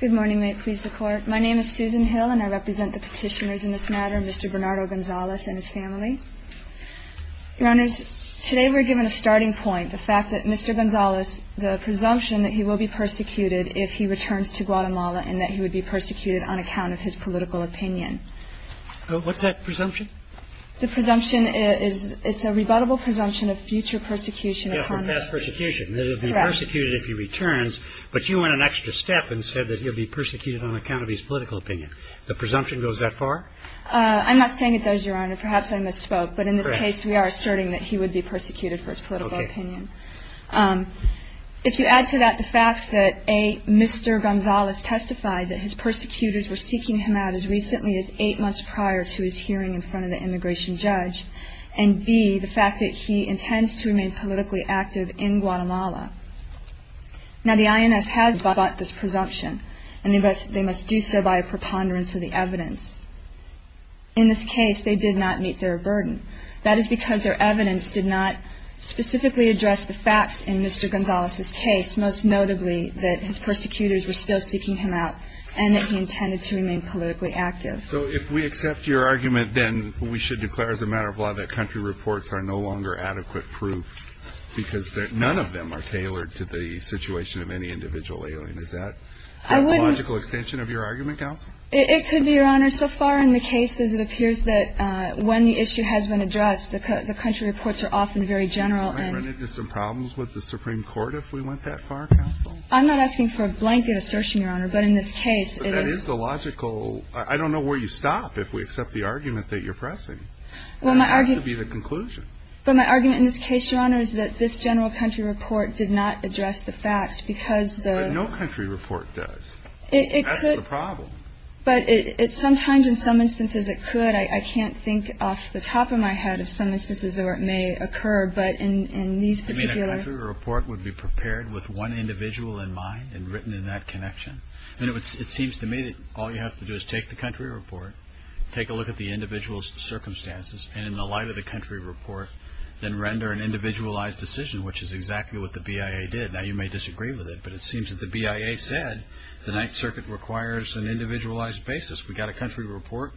Good morning, may it please the Court. My name is Susan Hill and I represent the petitioners in this matter, Mr. Bernardo Gonzalez and his family. Your Honors, today we're given a starting point, the fact that Mr. Gonzalez, the presumption that he will be persecuted if he returns to Guatemala and that he would be persecuted on account of his political opinion. What's that presumption? The presumption is, it's a rebuttable presumption of future persecution. Yeah, for past persecution, that he'll be persecuted if he returns, but you went an extra step and said that he'll be persecuted on account of his political opinion. The presumption goes that far? I'm not saying it does, Your Honor, perhaps I misspoke, but in this case we are asserting that he would be persecuted for his political opinion. If you add to that the facts that, A, Mr. Gonzalez testified that his persecutors were seeking him out as recently as eight months prior to his hearing in front of the immigration judge, and, B, the fact that he intends to remain politically active in Guatemala. Now, the INS has bought this presumption and they must do so by a preponderance of the evidence. In this case, they did not meet their burden. That is because their evidence did not specifically address the facts in Mr. Gonzalez's case, most notably that his persecutors were still seeking him out and that he intended to remain politically active. So if we accept your argument, then we should declare as a matter of law that country reports are no longer adequate proof because none of them are tailored to the situation of any individual alien. Is that a logical extension of your argument, Counsel? It could be, Your Honor. So far in the cases, it appears that when the issue has been addressed, the country reports are often very general. Would we run into some problems with the Supreme Court if we went that far, Counsel? I'm not asking for a blanket assertion, Your Honor, but in this case it is. I don't know where you stop if we accept the argument that you're pressing. That has to be the conclusion. But my argument in this case, Your Honor, is that this general country report did not address the facts because the ---- But no country report does. It could. That's the problem. But sometimes in some instances it could. I can't think off the top of my head of some instances where it may occur. But in these particular ---- I mean, a country report would be prepared with one individual in mind and written in that connection. And it seems to me that all you have to do is take the country report, take a look at the individual's circumstances, and in the light of the country report, then render an individualized decision, which is exactly what the BIA did. Now, you may disagree with it, but it seems that the BIA said the Ninth Circuit requires an individualized basis. We got a country report.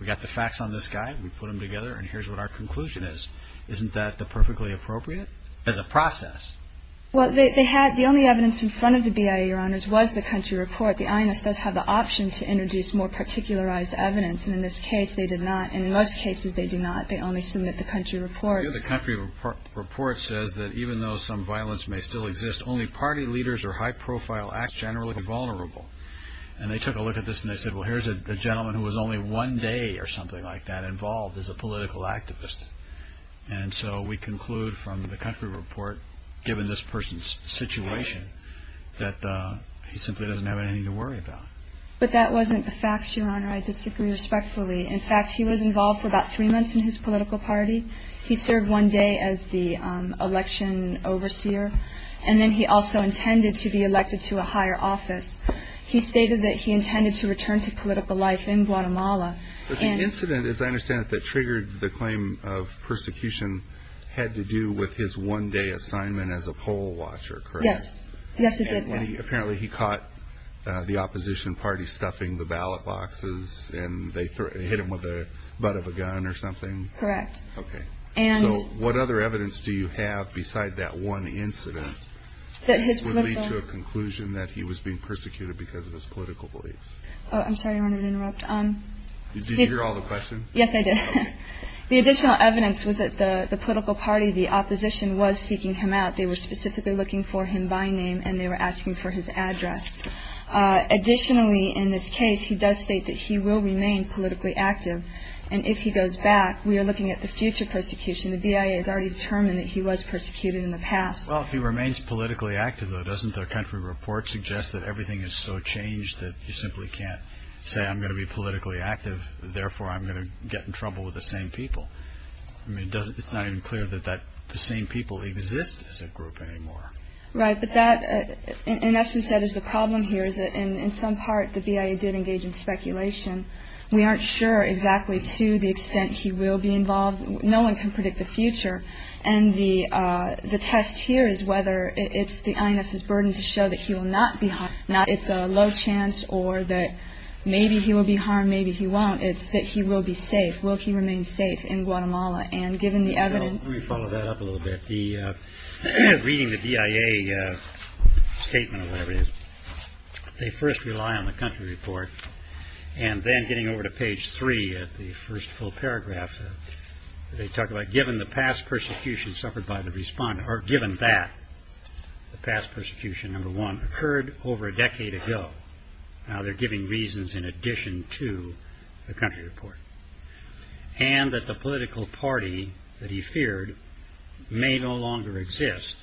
We got the facts on this guy. We put them together, and here's what our conclusion is. Isn't that perfectly appropriate as a process? Well, the only evidence in front of the BIA, Your Honors, was the country report. The INS does have the option to introduce more particularized evidence, and in this case they did not. And in most cases they do not. They only submit the country report. The country report says that even though some violence may still exist, only party leaders or high-profile acts generally are vulnerable. And they took a look at this and they said, well, here's a gentleman who was only one day or something like that involved as a political activist. And so we conclude from the country report, given this person's situation, that he simply doesn't have anything to worry about. But that wasn't the facts, Your Honor. I disagree respectfully. In fact, he was involved for about three months in his political party. He served one day as the election overseer, and then he also intended to be elected to a higher office. He stated that he intended to return to political life in Guatemala. But the incident, as I understand it, that triggered the claim of persecution had to do with his one-day assignment as a poll watcher, correct? Yes. Yes, it did. And apparently he caught the opposition party stuffing the ballot boxes and they hit him with the butt of a gun or something? Correct. Okay. So what other evidence do you have beside that one incident that would lead to a conclusion that he was being persecuted because of his political beliefs? I'm sorry, Your Honor, to interrupt. Did you hear all the questions? Yes, I did. The additional evidence was that the political party, the opposition, was seeking him out. They were specifically looking for him by name and they were asking for his address. Additionally, in this case, he does state that he will remain politically active. And if he goes back, we are looking at the future persecution. The BIA has already determined that he was persecuted in the past. Well, if he remains politically active, though, doesn't the country report suggest that everything is so changed that you simply can't say I'm going to be politically active, therefore I'm going to get in trouble with the same people? I mean, it's not even clear that the same people exist as a group anymore. Right. But that, in essence, that is the problem here, is that in some part the BIA did engage in speculation. We aren't sure exactly to the extent he will be involved. No one can predict the future. And the test here is whether it's the illness's burden to show that he will not be harmed. Now, it's a low chance or that maybe he will be harmed, maybe he won't. It's that he will be safe. Will he remain safe in Guatemala? And given the evidence. Let me follow that up a little bit. Reading the BIA statement or whatever it is, they first rely on the country report. And then getting over to page three, the first full paragraph, they talk about given the past persecution suffered by the respondent, or given that the past persecution, number one, occurred over a decade ago, now they're giving reasons in addition to the country report, and that the political party that he feared may no longer exist,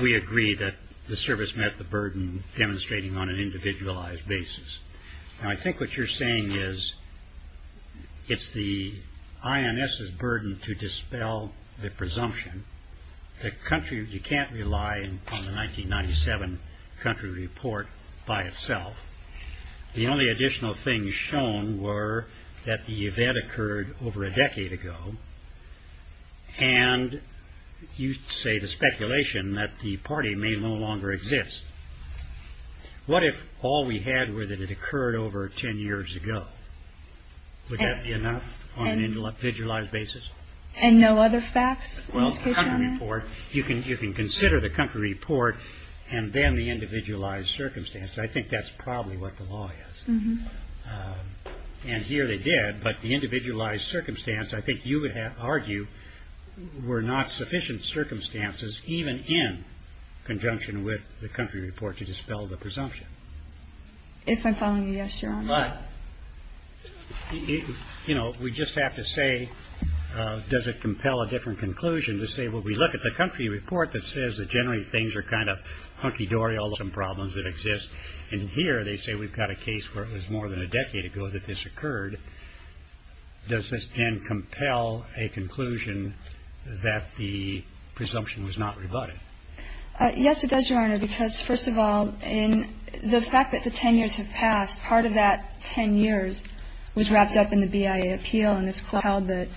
we agree that the service met the burden demonstrating on an individualized basis. Now, I think what you're saying is it's the INS's burden to dispel the presumption. The country, you can't rely on the 1997 country report by itself. The only additional things shown were that the event occurred over a decade ago, and you say the speculation that the party may no longer exist. What if all we had were that it occurred over ten years ago? Would that be enough on an individualized basis? And no other facts? Well, the country report, you can consider the country report, and then the individualized circumstance. I think that's probably what the law is. And here they did, but the individualized circumstance, I think you would argue, were not sufficient circumstances, even in conjunction with the country report, to dispel the presumption. If I'm following you, yes, Your Honor. But, you know, we just have to say, does it compel a different conclusion to say, well, we look at the country report that says that generally things are kind of hunky-dory, although there are some problems that exist, and here they say we've got a case where it was more than a decade ago that this occurred. Does this then compel a conclusion that the presumption was not rebutted? Yes, it does, Your Honor, because, first of all, the fact that the ten years have passed, part of that ten years was wrapped up in the BIA appeal, and this compelled that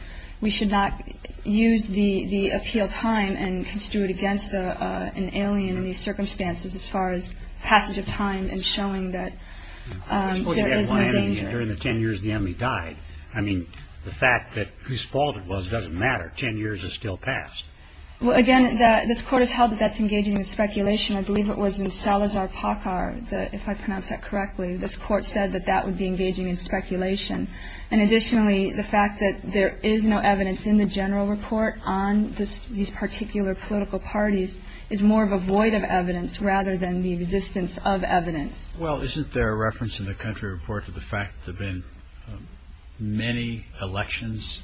we should not use the appeal time and construe it against an alien in these circumstances as far as passage of time and showing that there is no danger. During the ten years the enemy died, I mean, the fact that whose fault it was doesn't matter. Ten years has still passed. Well, again, this Court has held that that's engaging in speculation. I believe it was in Salazar-Pakar, if I pronounced that correctly. This Court said that that would be engaging in speculation. And additionally, the fact that there is no evidence in the general report on these particular political parties is more of a void of evidence rather than the existence of evidence. Well, isn't there a reference in the country report to the fact that there have been many elections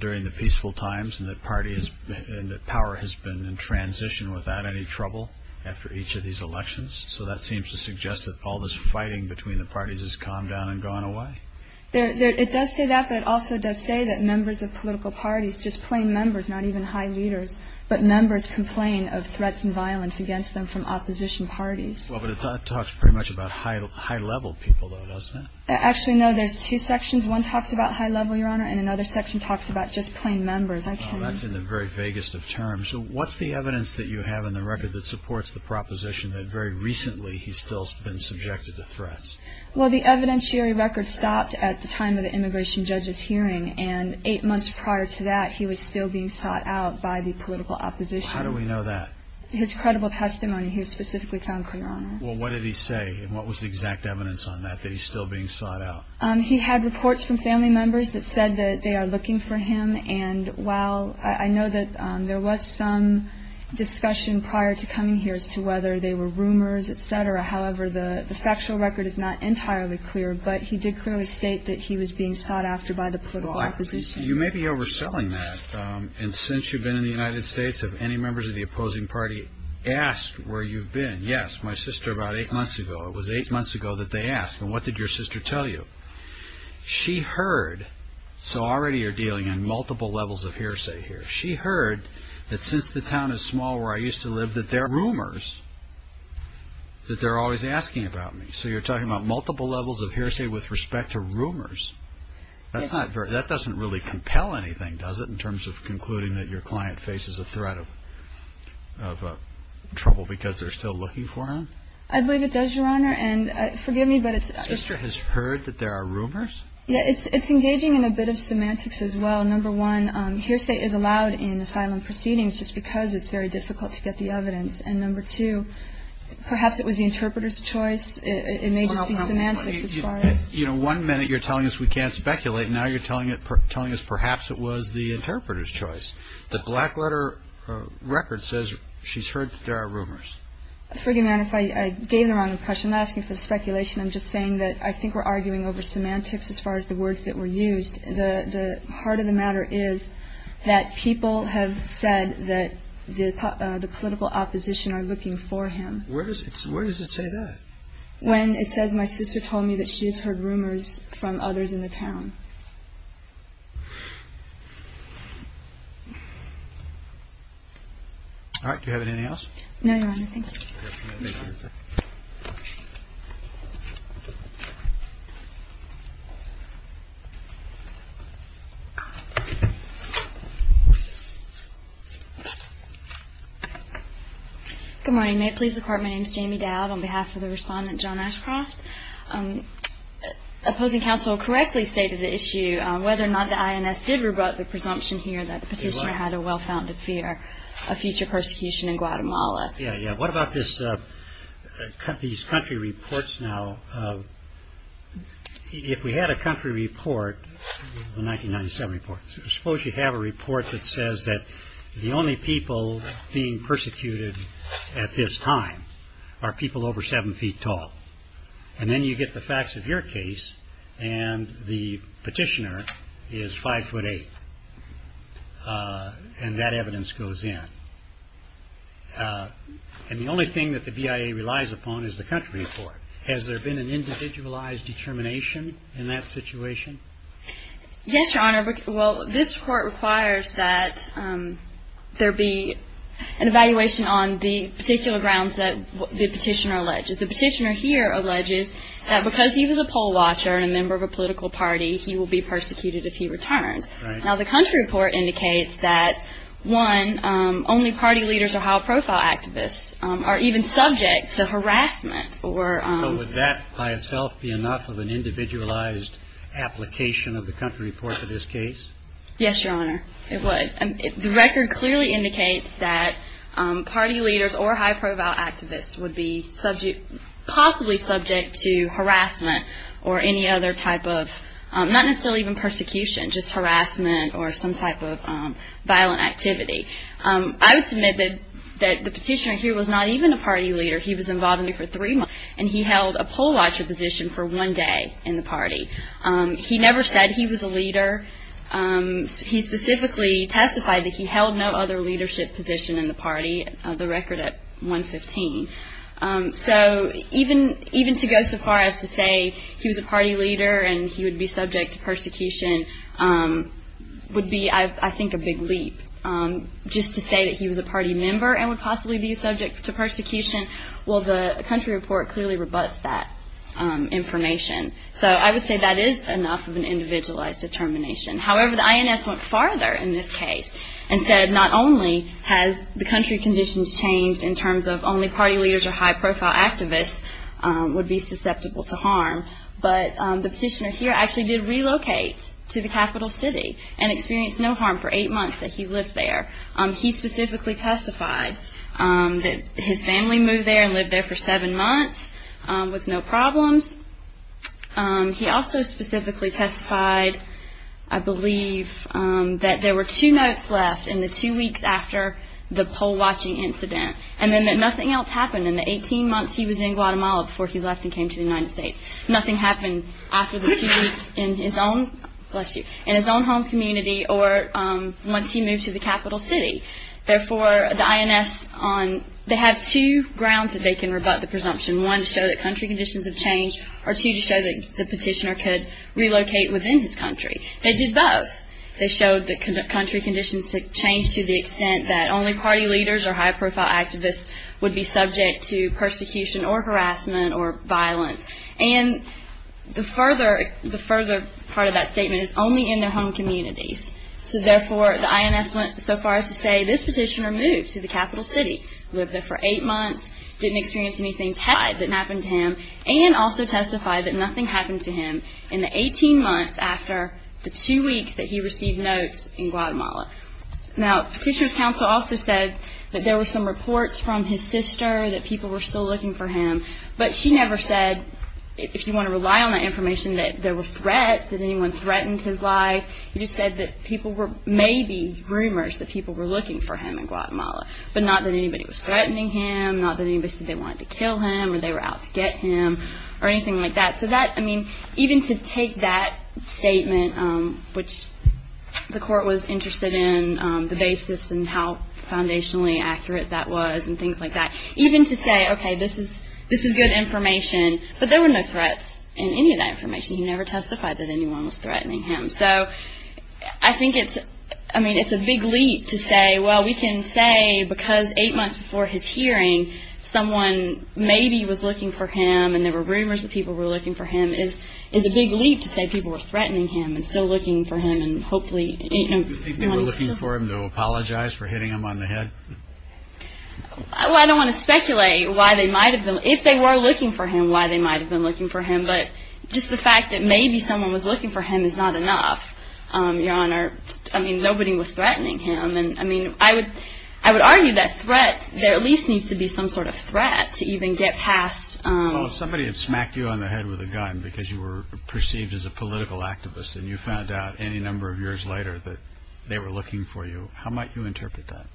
during the peaceful times and that power has been in transition without any trouble after each of these elections? So that seems to suggest that all this fighting between the parties has calmed down and gone away. It does say that, but it also does say that members of political parties, just plain members, not even high leaders, but members complain of threats and violence against them from opposition parties. Well, but it talks pretty much about high-level people, though, doesn't it? Actually, no. There's two sections. One talks about high-level, Your Honor, and another section talks about just plain members. That's in the very vaguest of terms. What's the evidence that you have in the record that supports the proposition that very recently he's still been subjected to threats? Well, the evidentiary record stopped at the time of the immigration judge's hearing, and eight months prior to that, he was still being sought out by the political opposition. How do we know that? His credible testimony he specifically found, Your Honor. Well, what did he say, and what was the exact evidence on that, that he's still being sought out? He had reports from family members that said that they are looking for him, and while I know that there was some discussion prior to coming here as to whether they were rumors, et cetera, however, the factual record is not entirely clear, but he did clearly state that he was being sought after by the political opposition. You may be overselling that, and since you've been in the United States, have any members of the opposing party asked where you've been? Yes, my sister about eight months ago. It was eight months ago that they asked, and what did your sister tell you? She heard, so already you're dealing on multiple levels of hearsay here. She heard that since the town is small where I used to live that there are rumors that they're always asking about me. So you're talking about multiple levels of hearsay with respect to rumors. That doesn't really compel anything, does it, in terms of concluding that your client faces a threat of trouble because they're still looking for him? I believe it does, Your Honor, and forgive me, but it's- Your sister has heard that there are rumors? Yeah, it's engaging in a bit of semantics as well. Number one, hearsay is allowed in asylum proceedings just because it's very difficult to get the evidence, and number two, perhaps it was the interpreter's choice. It may just be semantics as far as- One minute you're telling us we can't speculate. Now you're telling us perhaps it was the interpreter's choice. The black letter record says she's heard that there are rumors. Forgive me, Your Honor, if I gave the wrong impression. I'm not asking for speculation. I'm just saying that I think we're arguing over semantics as far as the words that were used. The heart of the matter is that people have said that the political opposition are looking for him. Where does it say that? When it says my sister told me that she has heard rumors from others in the town. All right. Do you have anything else? No, Your Honor. Thank you. Good morning. May it please the Court, my name is Jamie Dowd on behalf of the respondent, John Ashcroft. Opposing counsel correctly stated the issue whether or not the INS did rebut the presumption here that the petitioner had a well-founded fear of future persecution in Guatemala. Yeah, yeah. What about these country reports now? If we had a country report, the 1997 report, suppose you have a report that says that the only people being persecuted at this time are people over seven feet tall. And then you get the facts of your case and the petitioner is five foot eight. And that evidence goes in. And the only thing that the BIA relies upon is the country report. Has there been an individualized determination in that situation? Yes, Your Honor. Well, this court requires that there be an evaluation on the particular grounds that the petitioner alleges. The petitioner here alleges that because he was a poll watcher and a member of a political party, he will be persecuted if he returns. Now, the country report indicates that, one, only party leaders or high-profile activists are even subject to harassment. So would that by itself be enough of an individualized application of the country report for this case? Yes, Your Honor. It would. The record clearly indicates that party leaders or high-profile activists would be possibly subject to harassment or any other type of, not necessarily even persecution, just harassment or some type of violent activity. I would submit that the petitioner here was not even a party leader. He was involved in it for three months, and he held a poll watcher position for one day in the party. He never said he was a leader. He specifically testified that he held no other leadership position in the party, the record at 115. So even to go so far as to say he was a party leader and he would be subject to persecution would be, I think, a big leap. Just to say that he was a party member and would possibly be subject to persecution, well, the country report clearly rebuts that information. So I would say that is enough of an individualized determination. However, the INS went farther in this case and said not only has the country conditions changed in terms of only party leaders or high-profile activists would be susceptible to harm, but the petitioner here actually did relocate to the capital city and experienced no harm for eight months that he lived there. He specifically testified that his family moved there and lived there for seven months with no problems. He also specifically testified, I believe, that there were two notes left in the two weeks after the poll watching incident and then that nothing else happened in the 18 months he was in Guatemala before he left and came to the United States. Nothing happened after the two weeks in his own home community or once he moved to the capital city. Therefore, the INS, they have two grounds that they can rebut the presumption. One, to show that country conditions have changed, or two, to show that the petitioner could relocate within his country. They did both. They showed that country conditions had changed to the extent that only party leaders or high-profile activists would be subject to persecution or harassment or violence. And the further part of that statement is only in their home communities. So therefore, the INS went so far as to say this petitioner moved to the capital city, lived there for eight months, didn't experience anything tied that happened to him, and also testified that nothing happened to him in the 18 months after the two weeks that he received notes in Guatemala. Now, Petitioner's Counsel also said that there were some reports from his sister that people were still looking for him, but she never said, if you want to rely on that information, that there were threats, that anyone threatened his life. She just said that people were, maybe rumors, that people were looking for him in Guatemala, but not that anybody was threatening him, not that anybody said they wanted to kill him or they were out to get him or anything like that. So that, I mean, even to take that statement, which the court was interested in, the basis and how foundationally accurate that was and things like that, even to say, okay, this is good information, but there were no threats in any of that information. He never testified that anyone was threatening him. So I think it's, I mean, it's a big leap to say, well, we can say because eight months before his hearing, someone maybe was looking for him and there were rumors that people were looking for him, is a big leap to say people were threatening him and still looking for him and hopefully, you know. Do you think they were looking for him to apologize for hitting him on the head? Well, I don't want to speculate why they might have been, if they were looking for him, why they might have been looking for him, but just the fact that maybe someone was looking for him is not enough, Your Honor. I mean, nobody was threatening him. And I mean, I would argue that threats, there at least needs to be some sort of threat to even get past. Well, if somebody had smacked you on the head with a gun because you were perceived as a political activist and you found out any number of years later that they were looking for you, how might you interpret that?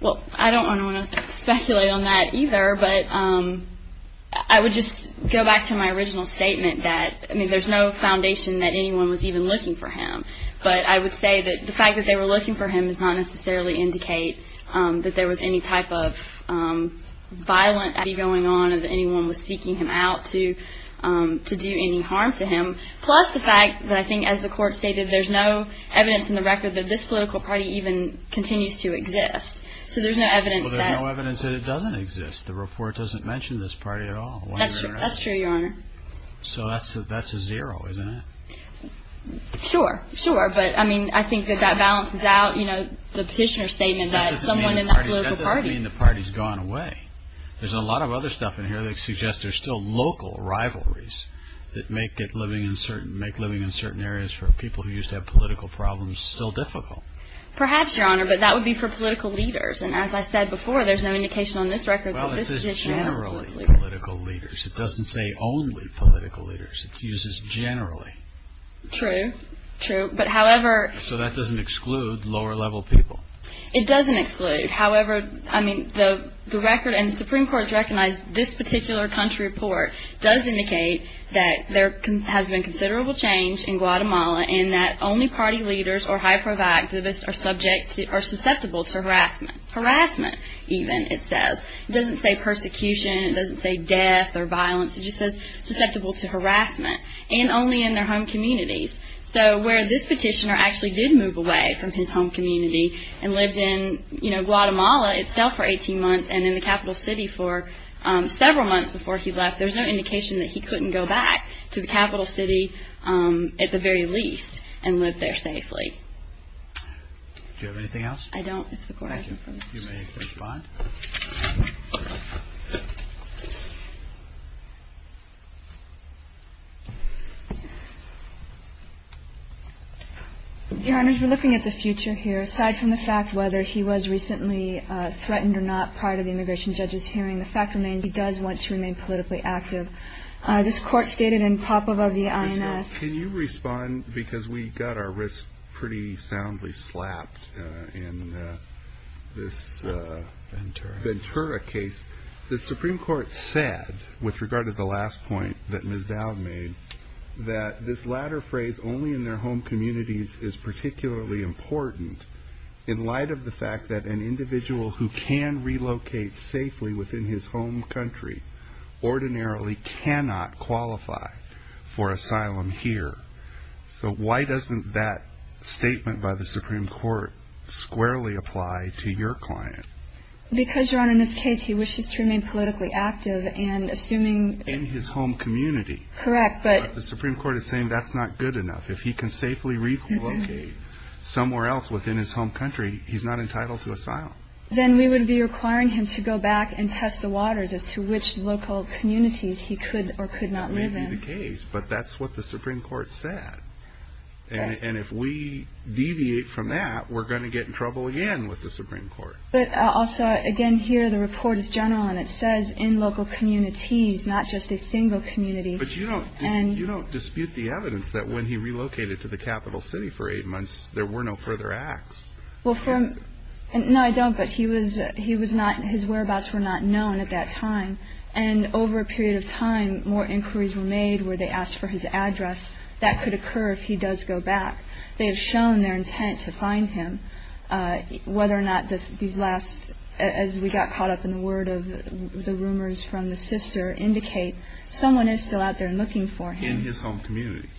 Well, I don't want to speculate on that either, but I would just go back to my original statement that, I mean, there's no foundation that anyone was even looking for him. But I would say that the fact that they were looking for him does not necessarily indicate that there was any type of violent activity going on or that anyone was seeking him out to do any harm to him, plus the fact that I think, as the Court stated, there's no evidence in the record that this political party even continues to exist. So there's no evidence that… Well, there's no evidence that it doesn't exist. The report doesn't mention this party at all. That's true, Your Honor. So that's a zero, isn't it? Sure, sure. But, I mean, I think that that balances out, you know, the petitioner's statement that someone in that political party… That doesn't mean the party's gone away. There's a lot of other stuff in here that suggests there's still local rivalries that make living in certain areas for people who used to have political problems still difficult. Perhaps, Your Honor, but that would be for political leaders. And as I said before, there's no indication on this record that this petitioner is a political leader. Well, it says generally political leaders. It doesn't say only political leaders. It uses generally. True, true. But, however… So that doesn't exclude lower-level people. It doesn't exclude. However, I mean, the record, and the Supreme Court has recognized this particular country report, does indicate that there has been considerable change in Guatemala and that only party leaders or high-profile activists are susceptible to harassment. Harassment, even, it says. It doesn't say persecution. It doesn't say death or violence. It just says susceptible to harassment and only in their home communities. So where this petitioner actually did move away from his home community and lived in Guatemala itself for 18 months and in the capital city for several months before he left, there's no indication that he couldn't go back to the capital city at the very least and live there safely. Do you have anything else? I don't. You may respond. Your Honors, we're looking at the future here. Aside from the fact whether he was recently threatened or not prior to the immigration judge's hearing, the fact remains he does want to remain politically active. This court stated in Popova v. INS… Ventura. Ventura case, the Supreme Court said, with regard to the last point that Ms. Dowd made, that this latter phrase, only in their home communities, is particularly important in light of the fact that an individual who can relocate safely within his home country ordinarily cannot qualify for asylum here. So why doesn't that statement by the Supreme Court squarely apply to your client? Because, Your Honor, in this case he wishes to remain politically active and assuming… In his home community. Correct, but… But the Supreme Court is saying that's not good enough. If he can safely relocate somewhere else within his home country, he's not entitled to asylum. Then we would be requiring him to go back and test the waters as to which local communities he could or could not live in. That would be the case, but that's what the Supreme Court said. And if we deviate from that, we're going to get in trouble again with the Supreme Court. But also, again, here the report is general and it says in local communities, not just a single community. But you don't dispute the evidence that when he relocated to the capital city for eight months, there were no further acts. No, I don't, but his whereabouts were not known at that time. And over a period of time, more inquiries were made where they asked for his address. That could occur if he does go back. They have shown their intent to find him. Whether or not these last, as we got caught up in the word of the rumors from the sister, indicate someone is still out there looking for him. In his home community.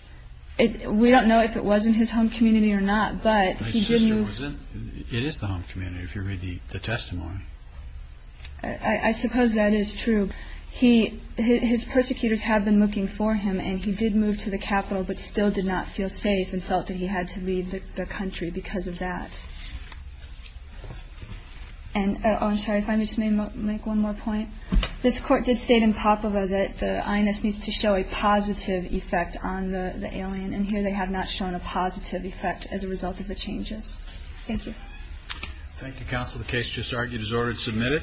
We don't know if it was in his home community or not, but he did move… It is the home community if you read the testimony. I suppose that is true. He, his persecutors have been looking for him and he did move to the capital, but still did not feel safe and felt that he had to leave the country because of that. And I'm sorry, if I may just make one more point. This court did state in Popova that the INS needs to show a positive effect on the alien. And here they have not shown a positive effect as a result of the changes. Thank you. Thank you, counsel. The case just argued is ordered and submitted.